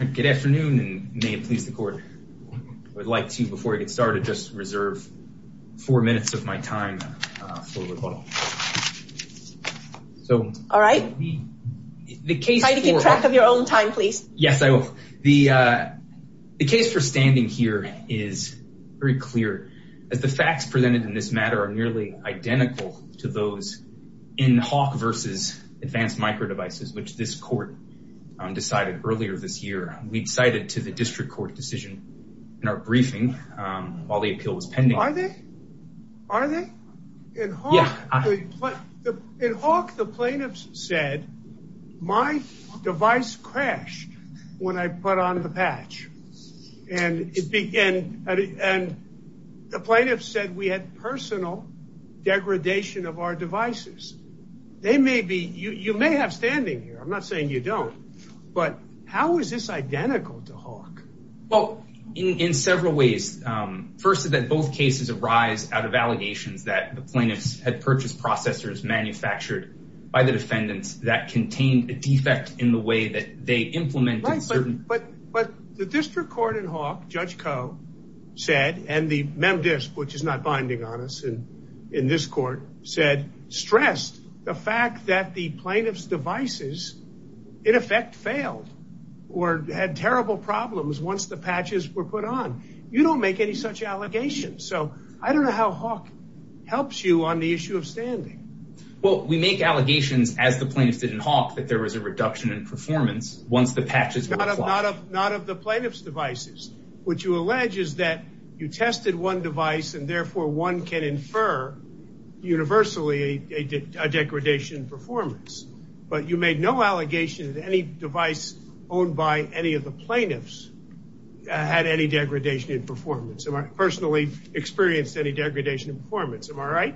Good afternoon and may it please the court. I would like to, before I get started, just reserve four minutes of my time for rebuttal. All right. Try to keep track of your own time, please. Yes, I will. The case for standing here is very clear, as the facts presented in this matter are nearly identical to those in Hawk v. Advanced Micro Devices, which this court decided earlier this year. We cited to the district court decision in our briefing while the appeal was pending. Are they? Are they? In Hawk, the plaintiffs said, my device crashed when I put on the patch. And the plaintiffs said we had personal degradation of our devices. They may be, you may have standing here, I'm not saying you don't, but how is this identical to Hawk? Well, in several ways. First is that both cases arise out of allegations that the plaintiffs had purchased processors manufactured by the defendants that contained a defect in the way they implemented certain... Right, but the district court in Hawk, Judge Koh, said, and the MemDisc, which is not binding on us in this court, said, stressed the fact that the plaintiff's devices, in effect, failed or had terrible problems once the patches were put on. You don't make any such allegations. So I don't know how Hawk helps you on the issue of standing. Well, we make allegations as the plaintiffs did in Hawk that there was a reduction in performance once the patches were applied. Not of the plaintiff's devices. What you allege is that you tested one device and therefore one can infer universally a degradation in performance. But you made no allegation that any device owned by any of the plaintiffs had any degradation in performance. I personally experienced any degradation in performance. Am I right?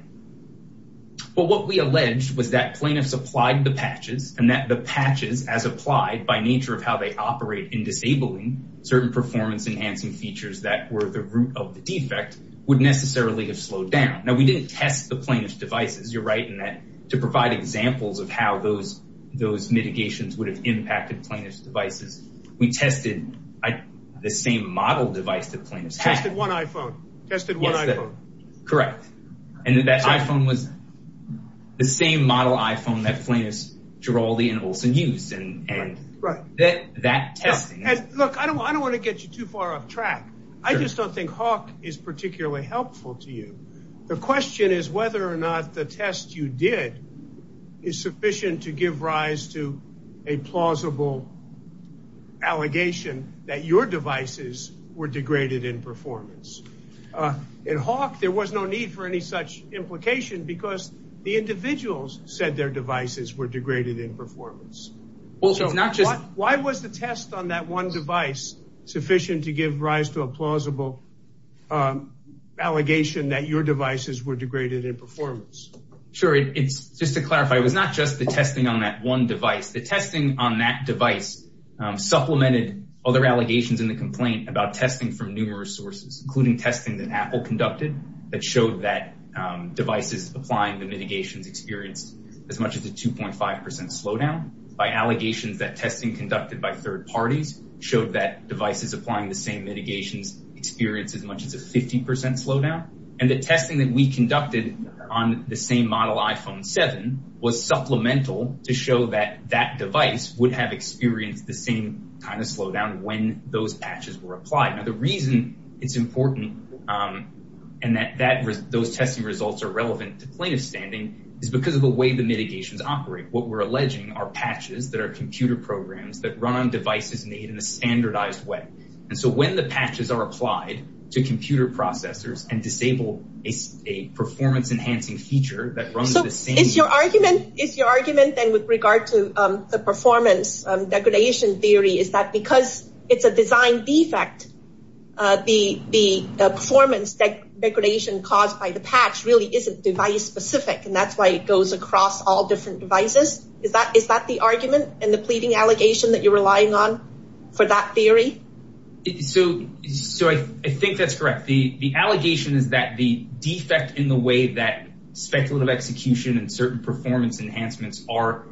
Well, what we alleged was that plaintiffs applied the patches and that the patches, as applied by nature of how they operate in disabling certain performance enhancing features that were the root of the defect, would necessarily have slowed down. Now, we didn't test the plaintiff's devices. You're right in that to provide examples of how those mitigations would have impacted plaintiff's devices, we tested the same model device that plaintiffs had. Tested one iPhone. Tested one iPhone. Correct. And that iPhone was the same model iPhone that plaintiffs Giraldi and Olsen used. And that testing. Look, I don't want to get you too far off track. I just don't think Hawk is particularly helpful to you. The question is whether or not the test you did is sufficient to give rise to a plausible allegation that your devices were degraded in performance. In Hawk, there was no need for any such implication because the individuals said their devices were degraded in performance. Why was the test on that one device sufficient to give rise to a plausible allegation that your devices were degraded in performance? Sure. It's just to clarify. It was not just the testing on that one device. The testing on that device supplemented other allegations in the complaint about testing from numerous sources, including testing that Apple conducted that showed that devices applying the mitigations experienced as much as a 2.5% slowdown. By allegations that testing conducted by third parties showed that devices applying the same mitigations experienced as much as a 50% slowdown. And the testing that we conducted on the same model iPhone 7 was supplemental to show that that device would have experienced the kind of slowdown when those patches were applied. Now, the reason it's important and that those testing results are relevant to plaintiff standing is because of the way the mitigations operate. What we're alleging are patches that are computer programs that run on devices made in a standardized way. And so when the patches are applied to computer processors and disable a performance enhancing feature that runs the same... So is your argument then with regard to the performance degradation theory is that because it's a design defect, the performance degradation caused by the patch really isn't device specific. And that's why it goes across all different devices. Is that the argument and the pleading allegation that you're relying on for that theory? So I think that's correct. The allegation is that the defect in the way that speculative execution and certain enhancements are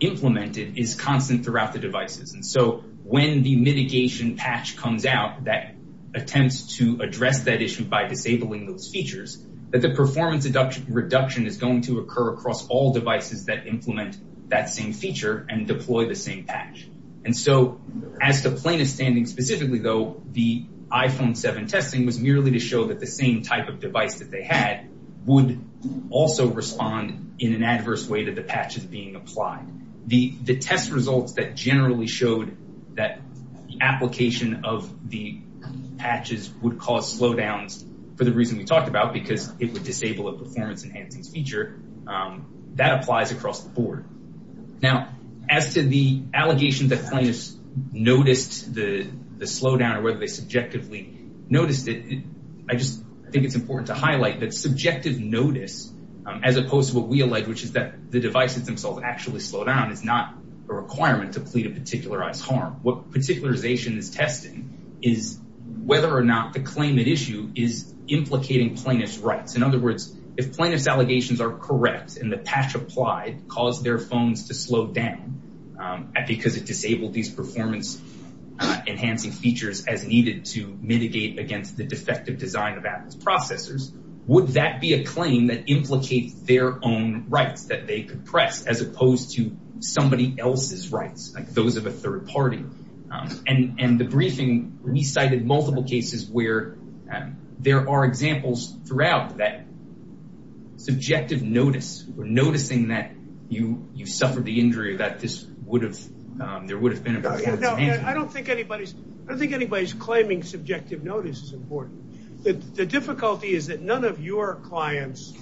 implemented is constant throughout the devices. And so when the mitigation patch comes out that attempts to address that issue by disabling those features, that the performance reduction is going to occur across all devices that implement that same feature and deploy the same patch. And so as the plaintiff standing specifically though, the iPhone 7 testing was merely to show that the same type of device that they had would also respond in an adverse way to the patches being applied. The test results that generally showed that the application of the patches would cause slowdowns for the reason we talked about, because it would disable a performance enhancing feature, that applies across the board. Now as to the allegation that plaintiffs noticed the slowdown or whether they noticed it, I think it's important to highlight that subjective notice, as opposed to what we allege, which is that the devices themselves actually slow down is not a requirement to plead a particularized harm. What particularization is testing is whether or not the claim at issue is implicating plaintiff's rights. In other words, if plaintiff's allegations are correct and the patch applied caused their phones to slow down because it disabled these performance enhancing features as needed to mitigate against the defective design of Apple's processors, would that be a claim that implicates their own rights that they could press as opposed to somebody else's rights, like those of a third party? And the briefing recited multiple cases where there are examples throughout that subjective notice, noticing that you suffered the injury that there would have been. I don't think anybody's claiming subjective notice is important. The difficulty is that none of your clients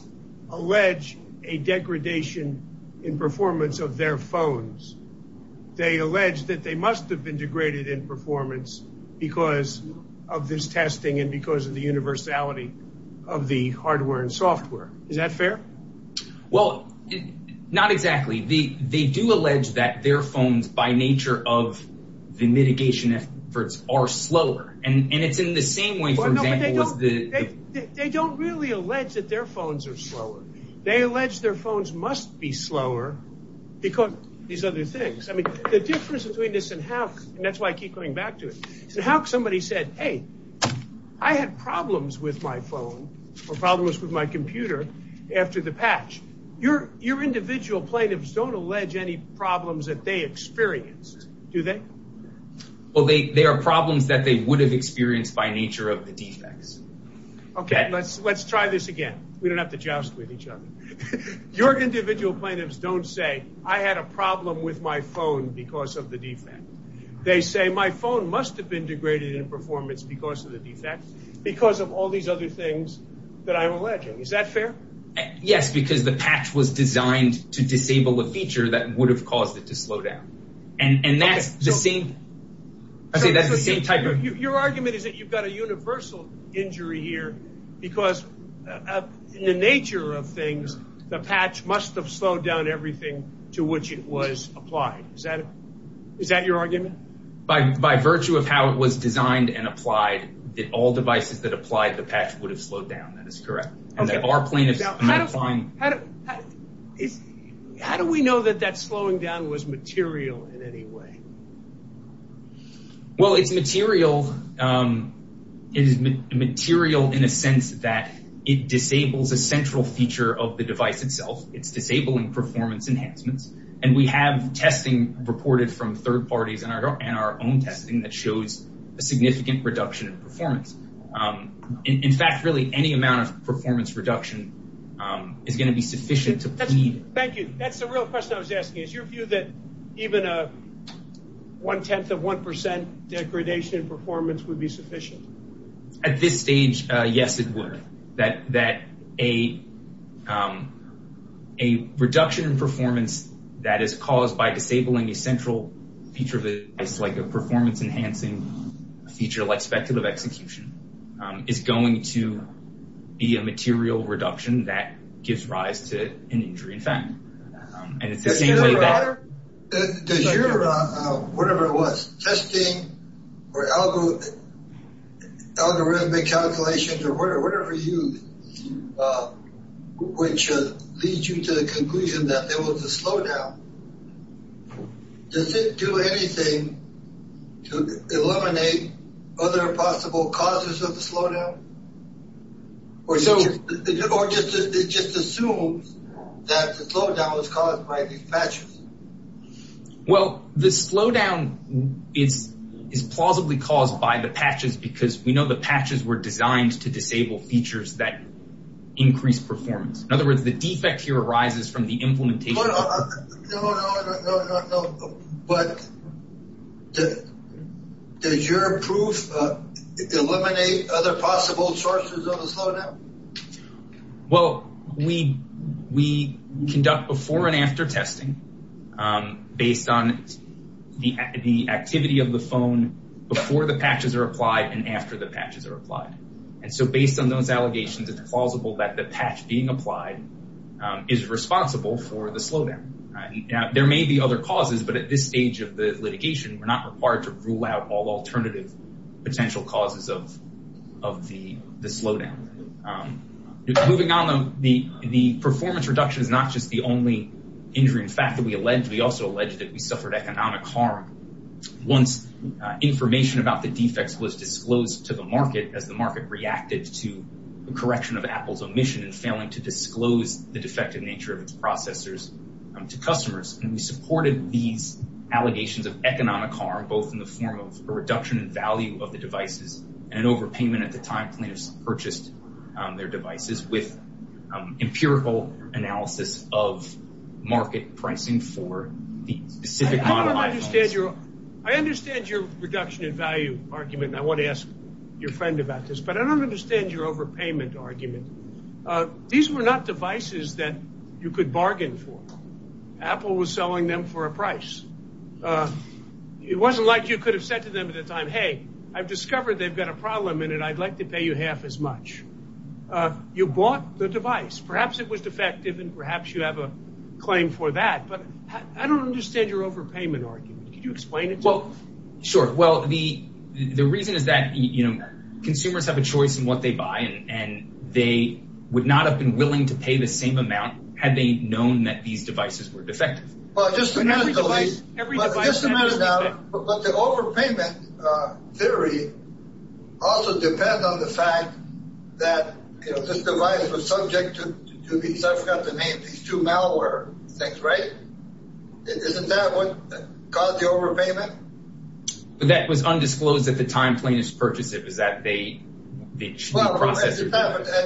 allege a degradation in performance of their phones. They allege that they must have been degraded in performance because of this testing and because of the universality of the hardware and software. Is that fair? Well, not exactly. They do allege that their phones, by nature of the mitigation efforts, are slower. And it's in the same way, for example, they don't really allege that their phones are slower. They allege their phones must be slower because these other things. I mean, the difference between this and how that's why I keep going back to it is how somebody said, hey, I had problems with my phone or problems with my computer. After the patch, your individual plaintiffs don't allege any problems that they experienced, do they? Well, they are problems that they would have experienced by nature of the defects. OK, let's let's try this again. We don't have to joust with each other. Your individual plaintiffs don't say I had a problem with my phone because of the defect. They say my phone must have been degraded in performance because of the defects, because of all these other things that I'm alleging. Is that fair? Yes, because the patch was designed to disable a feature that would have caused it to slow down. And that's the same. I say that's the same type of your argument is that you've got a universal injury here because of the nature of things. The patch must have slowed down everything to which it was applied. Is that is that your argument? By virtue of how it was designed and applied, that all devices that applied the patch would have slowed down. That is correct. And that our plaintiffs. How do we know that that slowing down was material in any way? Well, it's material. It is material in a sense that it disables a central feature of the device itself. It's disabling performance enhancements. And we have testing reported from third parties and our own testing that shows a significant reduction in performance. In fact, really, any amount of performance reduction is going to be sufficient. Thank you. That's the real question I was asking. Is your view that even a one tenth of one percent degradation in performance would be sufficient? At this stage, yes, it would. That that a reduction in performance that is caused by disabling a central feature of it is like a performance enhancing feature like speculative execution is going to be a material reduction that gives rise to an injury in fact. And it's the same way that does your whatever it was, testing or algorithmic calculations or whatever you which leads you to the conclusion that there was a slowdown. Does it do anything to eliminate other possible causes of the slowdown? Or so it just assumes that the slowdown was caused by these patches. Well, the slowdown is is plausibly caused by the patches because we know the patches were designed to disable features that increase performance. In other words, the defect here arises from the implementation. No, no, no, no, no, no. But does your proof eliminate other possible sources of the slowdown? Well, we conduct before and after testing based on the activity of the phone before the patches are applied and after the patches are applied. And so based on those allegations, it's plausible that the patch being applied is responsible for the slowdown. There may be other causes, but at this stage of the litigation, we're not required to rule out all alternative potential causes of the slowdown. Moving on though, the performance reduction is not just the only injury in fact that we allege. We also allege that we suffered economic harm once information about the defects was disclosed to the market as the market reacted to the correction of Apple's omission and failing to disclose the defective nature of its processors to customers. And we supported these allegations of economic harm, both in the form of a reduction in value of the devices and an overpayment at the time plaintiffs purchased their devices with empirical analysis of market pricing for the specific model. I understand your reduction in value argument and I want to ask your friend about this, but I don't understand your overpayment argument. These were not devices that you could bargain for. Apple was selling them for a price. It wasn't like you could have said to them at the time, hey, I've discovered they've got a problem and I'd like to pay you half as much. You bought the device, perhaps it was defective and perhaps you have a claim for that, but I don't understand your overpayment argument. Could you explain it? Well, sure. Well, the reason is that consumers have a choice in what they buy and they would not have been willing to pay the same amount had they known that these devices were defective. But the overpayment theory also depends on the fact that this device was subject to these two malware things, right? Isn't that what caused the overpayment? But that was undisclosed at the time plaintiffs purchased it. Well, at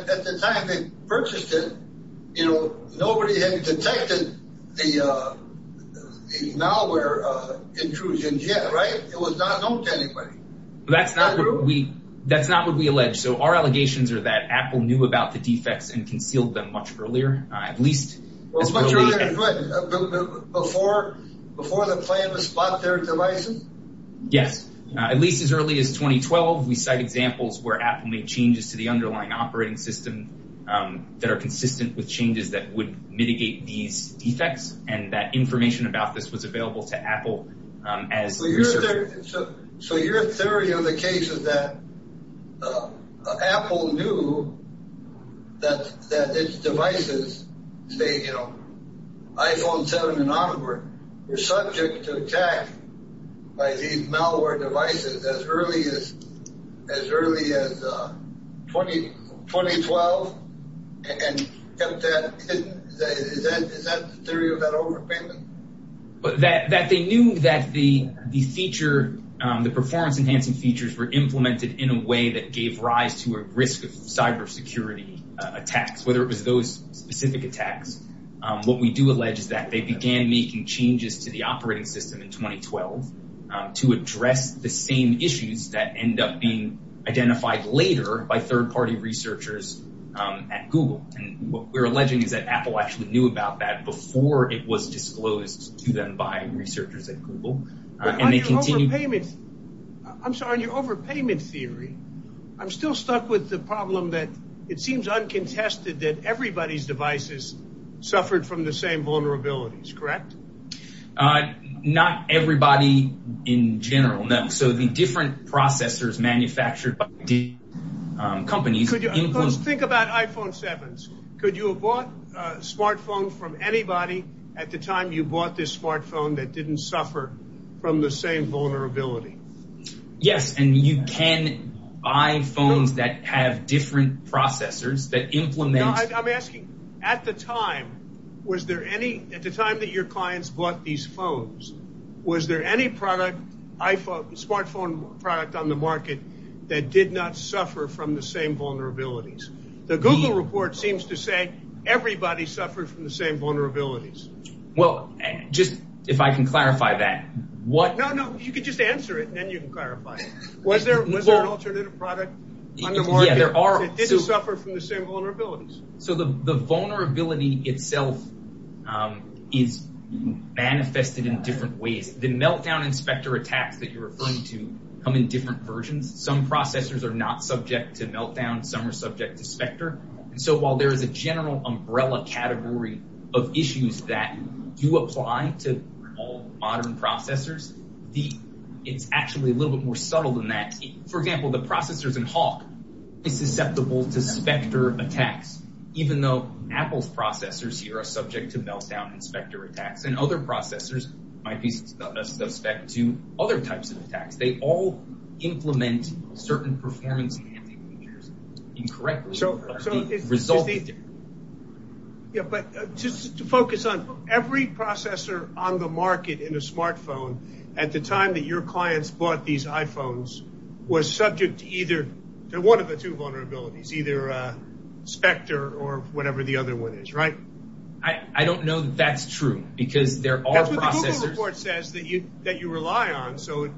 the time they purchased it, nobody had detected the malware intrusion yet, right? It was not known to anybody. That's not what we allege. So our allegations are that Apple knew about the defects and concealed them much earlier. Before the plaintiffs bought their devices? Yes. At least as early as 2012, we cite examples where Apple made changes to the underlying operating system that are consistent with changes that would mitigate these defects and that information about this was available to Apple. So your theory on the case is that Apple knew that its devices, say, you know, iPhone 7 and onward, were subject to attack by these malware devices as early as 2012 and kept that hidden? Is that the theory of that overpayment? That they knew that the performance enhancing features were implemented in a way that gave rise to a risk of cybersecurity attacks, whether it was those specific attacks. What we do allege is that they began making changes to the operating system in 2012 to address the same issues that end up being identified later by third party researchers at Google. And what we're alleging is that Apple actually knew about that before it was disclosed to them by researchers at Google. I'm sorry, on your overpayment theory, I'm still stuck with the problem that it seems uncontested that everybody's devices suffered from the same vulnerabilities, correct? Not everybody in general, no. So the different processors manufactured by companies. Think about iPhone 7. Could you have bought a smartphone from anybody at the time you bought this smartphone that didn't suffer from the same vulnerability? Yes, and you can buy phones that have different processors that implement... I'm asking, at the time, was there any, at the time that your clients bought these phones, was there any product, smartphone product on the market that did not suffer from the same vulnerabilities? The Google report seems to say everybody suffered from the same vulnerabilities. Well, just if I can clarify that. No, no, you can just answer it, and then you can clarify it. Was there an alternative product on the market that didn't suffer from the same vulnerabilities? So the vulnerability itself is manifested in different ways. The Meltdown and Spectre attacks that you're referring to come in different versions. Some processors are not subject to Meltdown, some are subject to Spectre. And so while there is a general umbrella category of issues that do apply to all modern processors, it's actually a little bit more subtle than that. For example, the processors in Hawk is susceptible to Spectre attacks, even though Apple's processors here are subject to Meltdown and Spectre attacks, and other processors might be suspect to other types of attacks. They all implement certain performance handling features incorrectly. Yeah, but just to focus on, every processor on the market in a smartphone at the time that your clients bought these iPhones was subject to either, to one of the two vulnerabilities, either Spectre or whatever the other one is, right? I don't know that that's true, because there are processors. That's what the Google report says that you rely on, so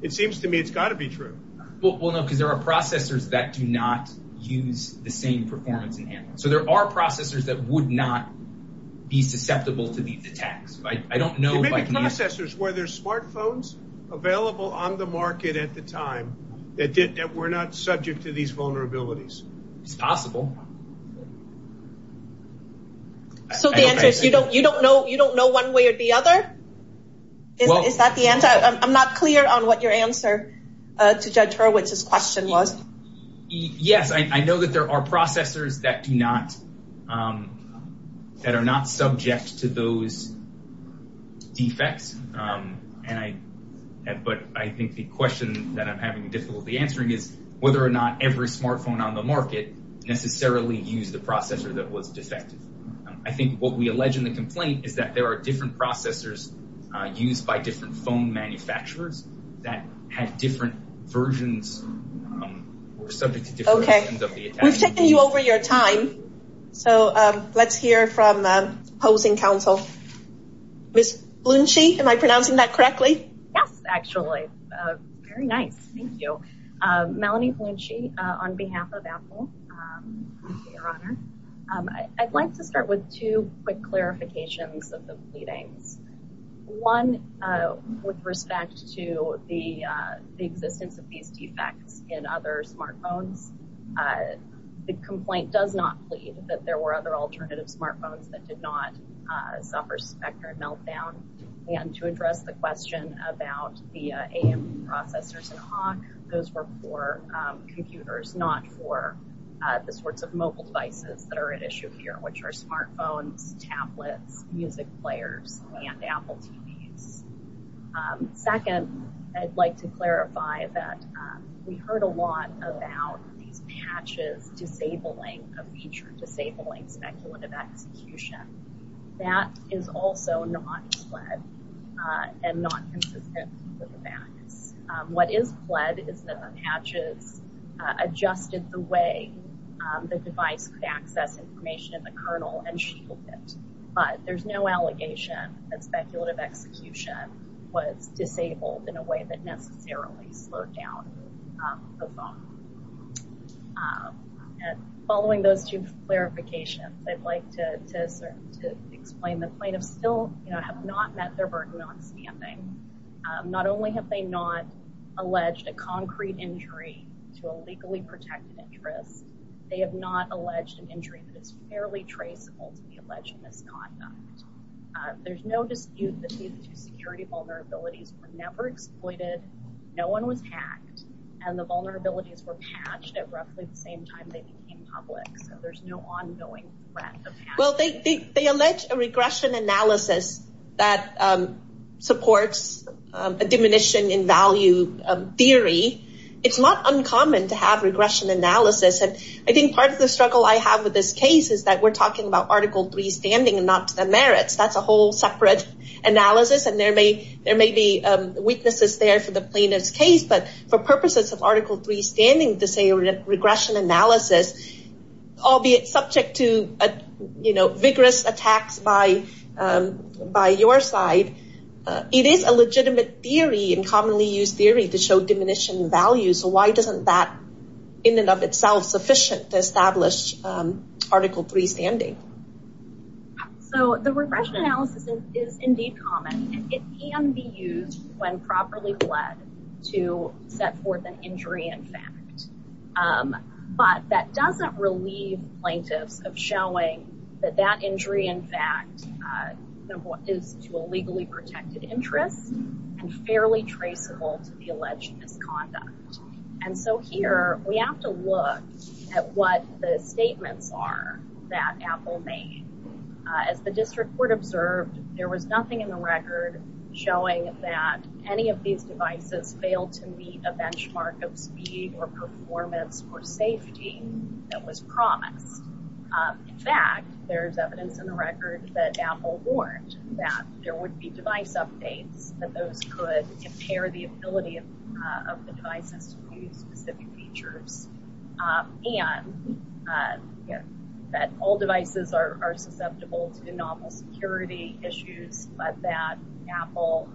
it seems to me it's processors that do not use the same performance and handling. So there are processors that would not be susceptible to these attacks. I don't know. Maybe processors where there's smartphones available on the market at the time that were not subject to these vulnerabilities. It's possible. So the answer is you don't know one way or the other? Is that the answer? I'm not clear on what your answer to Judge Hurwitz's question was. Yes, I know that there are processors that are not subject to those defects, but I think the question that I'm having difficulty answering is whether or not every smartphone on the market necessarily used the processor that was defective. I think what we allege in the complaint is that there are different processors used by different phone manufacturers that had different versions, were subject to different versions of the attacks. Okay. We've taken you over your time, so let's hear from opposing counsel. Ms. Blunshee, am I pronouncing that correctly? Yes, actually. Very nice. Thank you. Melanie Blunshee on behalf of Apple. Thank you, Your Honor. I'd like to start with two quick clarifications of the pleadings. One, with respect to the existence of these defects in other smartphones, the complaint does not plead that there were other alternative smartphones that did not suffer spectrum meltdown. And to address the question about the AM processors in Hawk, those were for computers, not for the sorts of mobile devices that are at issue here, which are smartphones, tablets, music players, and Apple TVs. Second, I'd like to clarify that we heard a lot about these patches disabling a feature, disabling speculative execution. That is also not pled and not consistent with the facts. What is pled is that the patches adjusted the way the device could access information in the kernel and shield it. But there's no allegation that speculative execution was disabled in a way that necessarily slowed down the phone. And following those two clarifications, I'd like to explain the plaintiffs have not met their burden on standing. Not only have they not alleged a concrete injury to a legally protected interest, they have not alleged an injury that is fairly traceable to the alleged misconduct. There's no dispute that these two security vulnerabilities were never exploited. No one was hacked. And the vulnerabilities were patched at roughly the same time they became public. So there's no ongoing threat. Well, they allege a regression analysis that supports a diminution in value theory. It's not uncommon to have regression analysis. And I think part of the struggle I have with this case is that we're talking about Article 3 standing and not the merits. That's a whole separate analysis. And there may be weaknesses there for the plaintiff's case. But for purposes of Article 3 standing to say regression analysis, albeit subject to vigorous attacks by your side, it is a legitimate theory and commonly used theory to show diminution in value. So why doesn't that in and of itself sufficient to establish Article 3 standing? So the regression analysis is indeed common. It can be used when properly led to set forth an injury in fact. But that doesn't relieve plaintiffs of showing that that injury in fact is to a legally protected interest and fairly traceable to the alleged misconduct. And so here we have to look at what the statements are that Apple made. As the district court observed, there was nothing in the record showing that any of these devices failed to meet a benchmark of speed or performance or safety that was promised. In fact, there's evidence in the record that Apple warned that there would be device updates that those could impair the ability of the devices to use specific features. And that all devices are susceptible to novel security issues, but that Apple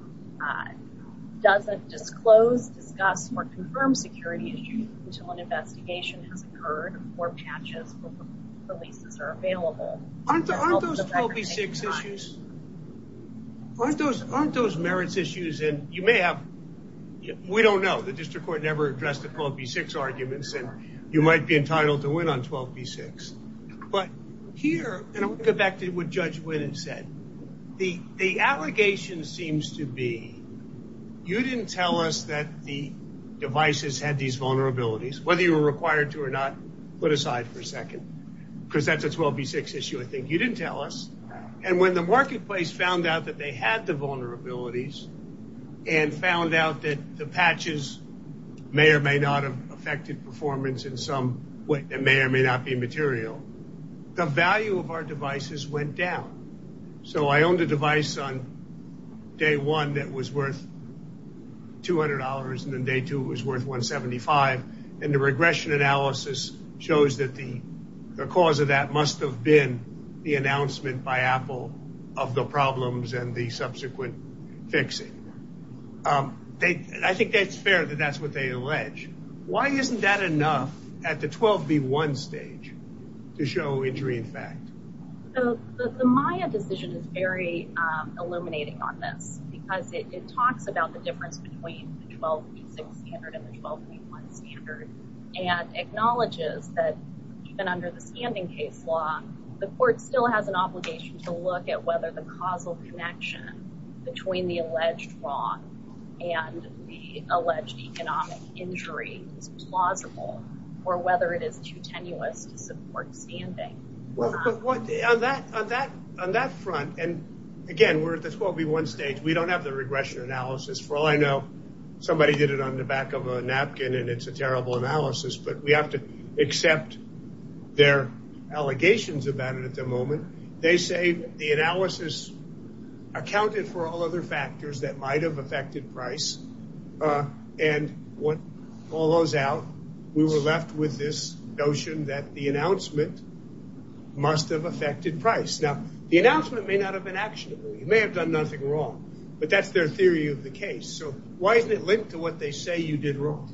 doesn't disclose, discuss, or confirm security issues until an investigation has occurred or patches releases are available. Aren't those 12B6 issues? Aren't those merits issues? And you may have, we don't know. The district court never addressed the 12B6 arguments, and you might be entitled to win on 12B6. But here, and I'll go back to what Judge Winn had said, the allegation seems to be you didn't tell us that the devices had these vulnerabilities. Whether you were required to or not, put aside for a second, because that's a 12B6 issue, I think. You didn't tell us. And when the marketplace found out that they had the vulnerabilities and found out that the patches may or may not have affected performance in some way that may or may not be material, the value of our devices went down. So I owned a device on day one that was worth $200, and then day two it was worth $175. And the regression analysis shows that the cause of that must have been the announcement by Apple of the problems and the subsequent fixing. I think that's fair that that's what they allege. Why isn't that enough at the 12B1 stage to show injury in fact? The Maya decision is very illuminating on this, because it talks about the difference between the 12B6 standard and the 12B1 standard, and acknowledges that even under the standing case law, the court still has an obligation to look at whether the causal connection between the alleged wrong and the alleged economic injury is plausible, or whether it is too tenuous to support standing. On that front, and again, we're at the 12B1 stage. We don't have the regression analysis. For all I know, somebody did it on the back of a napkin, and it's a terrible analysis, but we have to accept their allegations about it at the moment. They say the analysis accounted for all other factors that might have affected price. And what follows out, we were left with this notion that the announcement must have affected price. Now, the announcement may not have been actionable. You may have done nothing wrong, but that's their theory of the case. So, why isn't it linked to what they say you did wrong?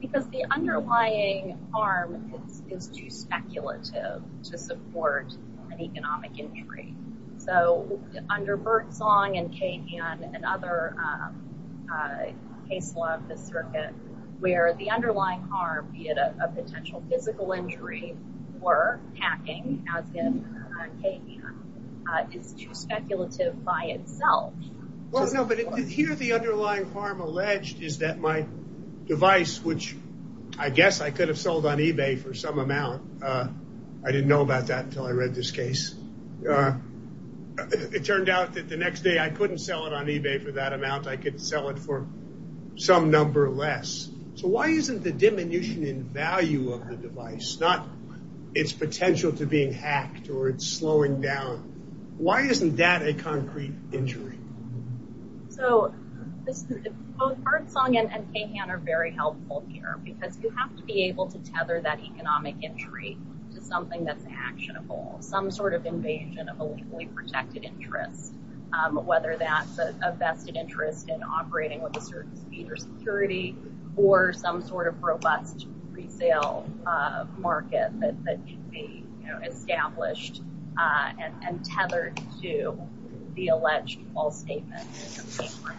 Because the underlying harm is too speculative to support an economic injury. So, under Birdsong and KVN and other case law of the circuit, where the underlying harm, be it a potential physical injury or hacking, as in KVN, is too speculative by itself. Here, the underlying harm alleged is that my device, which I guess I could have sold on eBay for some amount. I didn't know about that until I read this case. It turned out that the next day, I couldn't sell it on eBay for that amount. I could sell it for some number less. So, why isn't the diminution in value of the device, not its potential to being hacked or it's slowing down, why isn't that a concrete injury? So, both Birdsong and KVN are very helpful here, because you have to be able to tether that economic injury to something that's actionable. Some sort of invasion of a legally protected interest, whether that's a vested interest in operating with a certain speed or security, or some sort of robust resale market that should be established and tethered to the alleged false statement.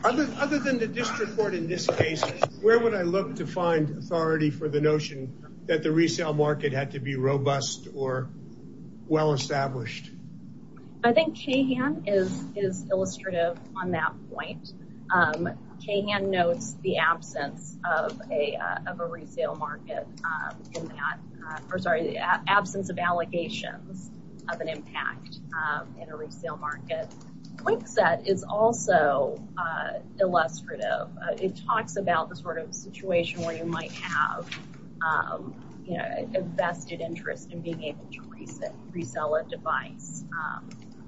Other than the district court in this case, where would I look to find authority for the notion that the resale market had to be robust or well-established? I think KVN is illustrative on that point. KVN notes the absence of a resale market in that, or sorry, the absence of allegations of an impact in a resale market. Winkset is also illustrative. It talks about the sort of situation where you might have a vested interest in being able to resell a device.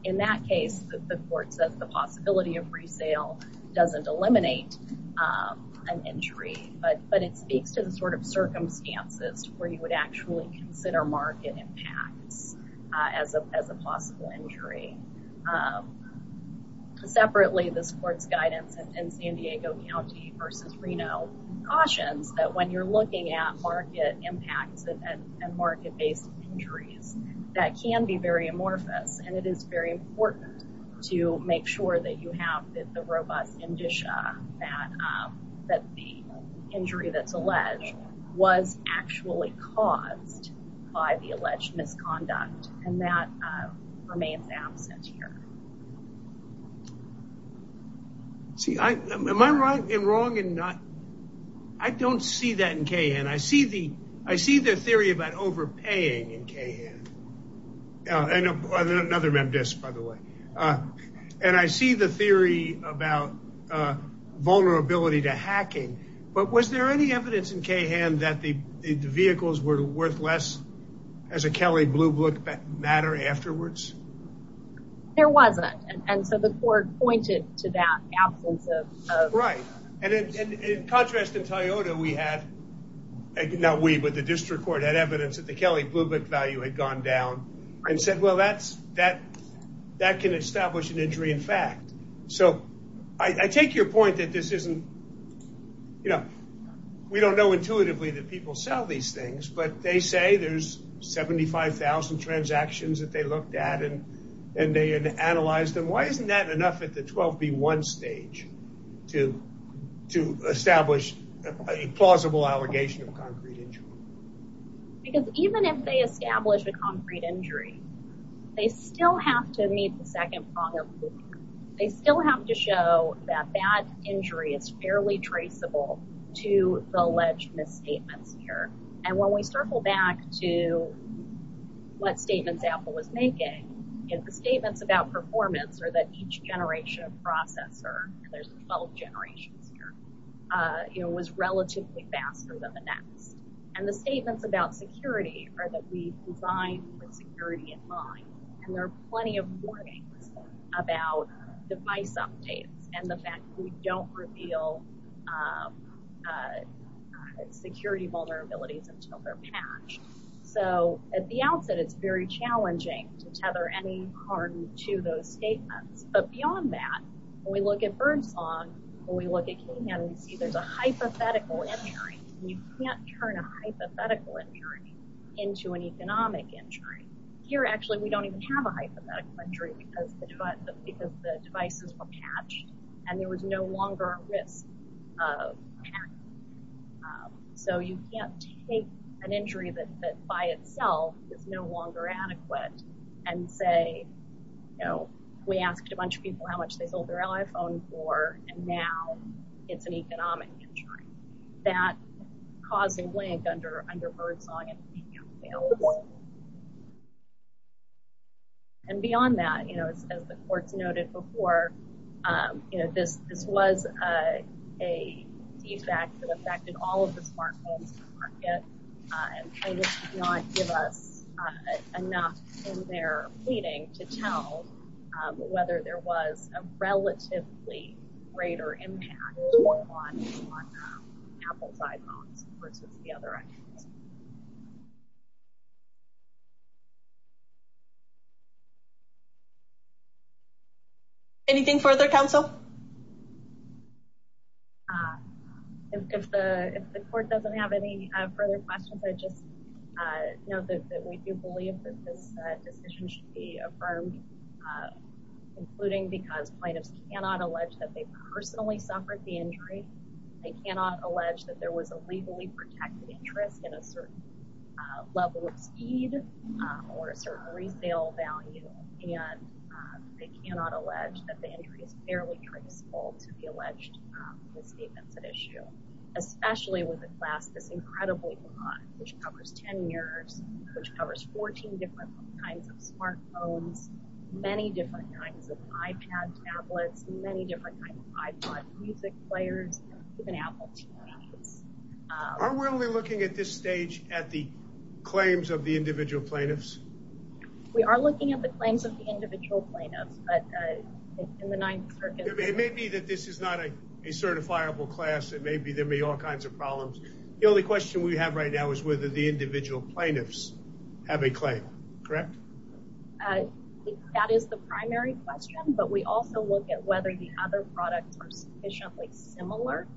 In that case, the court says the possibility of resale doesn't eliminate an injury, but it speaks to the sort of circumstances where you would actually consider market impacts as a possible injury. Separately, this court's guidance in San Diego County versus Reno cautions that when you're looking at market impacts and market-based injuries, that can be very amorphous. It is very important to make sure that you have the robust indicia that the injury that's alleged was actually caused by the alleged misconduct. That remains absent here. Am I wrong? I don't see that in KVN. I see the theory about overpaying in KVN. Another MemDisc, by the way. I see the theory about vulnerability to hacking, but was there any evidence in KVN that the vehicles were worth less as a Kelley Blue Book matter afterwards? There wasn't. The court pointed to that absence. In contrast, in Toyota, we had evidence that the Kelley Blue Book value had gone down and said that can establish an injury in fact. We don't know intuitively that people sell these 75,000 transactions that they looked at and analyzed. Why isn't that enough at the 12B1 stage to establish a plausible allegation of concrete injury? Even if they establish a concrete injury, they still have to meet the second prong of the book. They still have to show that that injury is fairly traceable to the alleged misstatements here. When we circle back to what statements Apple was making, the statements about performance are that each generation of processor, there's 12 generations here, was relatively faster than the next. The statements about security are that we design with security in mind. There are plenty of warnings about device updates and the fact that we don't reveal security vulnerabilities until they're patched. At the outset, it's very challenging to tether any harm to those statements. But beyond that, when we look at Birdsong, when we look at Kingham, we see there's a hypothetical injury. You can't turn a hypothetical injury into an economic injury. Here, actually, we don't even have a hypothetical injury because the devices were patched and there was no longer risk of patching. So you can't take an injury that by itself is no longer adequate and say, you know, we asked a bunch of people how much they sold their iPhone for, and now it's an economic injury. That caused a link under Birdsong and Kingham fails. And beyond that, you know, as the courts noted before, you know, this was a defect that affected all of the smartphones in the market and kind of did not give us enough in their pleading to tell whether there was a relatively greater impact on Apple's iPhones versus the other iPhones. Anything further, counsel? If the court doesn't have any further questions, I just know that we do believe that this decision should be affirmed, including because plaintiffs cannot allege that they personally suffered the injury. They cannot allege that there was a legally protected interest in a certain level of speed or a certain resale value, and they cannot allege that the injury is fairly traceable to the alleged misstatements at issue, especially with a class this incredibly broad, which covers 10 years, which covers 14 different kinds of smartphones, many different kinds of iPad tablets, many different kinds of iPod music players, even Apple TVs. Are we only looking at this stage at the claims of the individual plaintiffs? We are looking at the claims of the individual plaintiffs, but in the ninth circuit, it may be that this is not a certifiable class. It may be there may be all kinds of problems. The only question we have right now is whether the individual plaintiffs have a claim, correct? That is the primary question, but we also look at whether the other products are sufficiently similar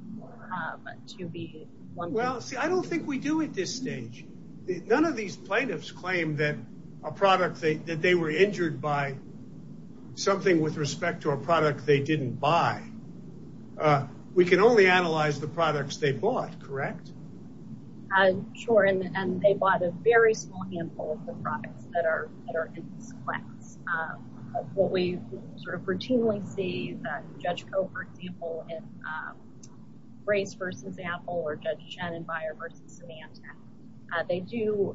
to be one. Well, see, I don't think we do at this stage. None of these plaintiffs claim that a product that they were injured by something with respect to a product they didn't buy. We can only analyze the products they bought, correct? Sure, and they bought a very small handful of the products that are in this class. What we sort of routinely see that Judge Koh, for example, in Grace versus Apple or Judge Shannon Byer versus Symantec, they do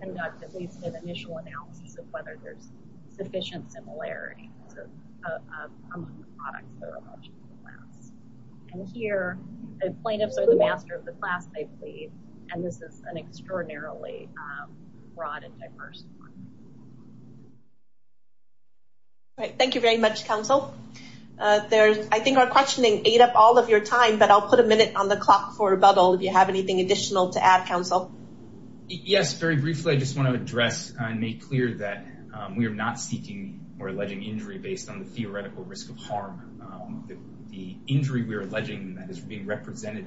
conduct at least an initial analysis of whether there's sufficient similarity among the products that are in the class. And here, the plaintiffs are the master of the class they plead, and this is an extraordinarily broad and diverse one. All right, thank you very much, counsel. I think our questioning ate up all of your time, but I'll put a minute on the clock for rebuttal if you have anything additional to add, counsel. Yes, very briefly, I just want to address and make clear that we are not seeking or alleging injury based on the theoretical risk of harm. The injury we're alleging that is being represented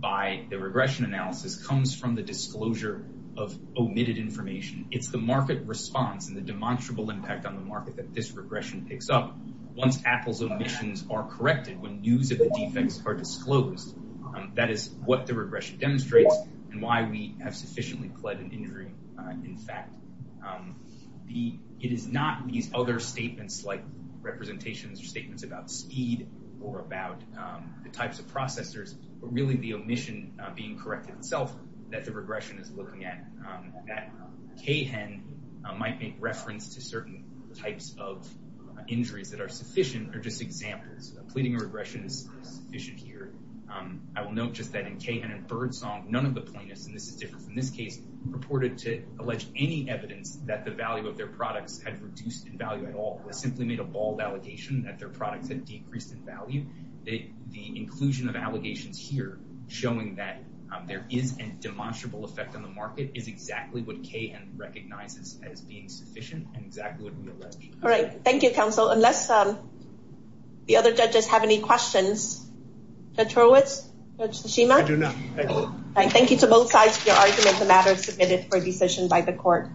by the regression analysis comes from the disclosure of omitted information. It's the response and the demonstrable impact on the market that this regression picks up once Apple's omissions are corrected, when news of the defects are disclosed. That is what the regression demonstrates and why we have sufficiently pled an injury in fact. It is not these other statements like representations or statements about speed or about the types of processors, but really the omission being corrected itself that the regression is looking at. That CAHEN might make reference to certain types of injuries that are sufficient are just examples. Pleading a regression is sufficient here. I will note just that in CAHEN and Birdsong, none of the plaintiffs, and this is different from this case, reported to allege any evidence that the value of their products had reduced in value at all. It was simply made a bald allegation that their products had decreased in value. The inclusion of allegations here showing that there is a demonstrable effect on the market is exactly what CAHEN recognizes as being sufficient and exactly what we allege. All right. Thank you, counsel, unless the other judges have any questions. Judge Horowitz? Judge Tsushima? I do not. Thank you to both sides for your argument. The matter is submitted for decision by the court.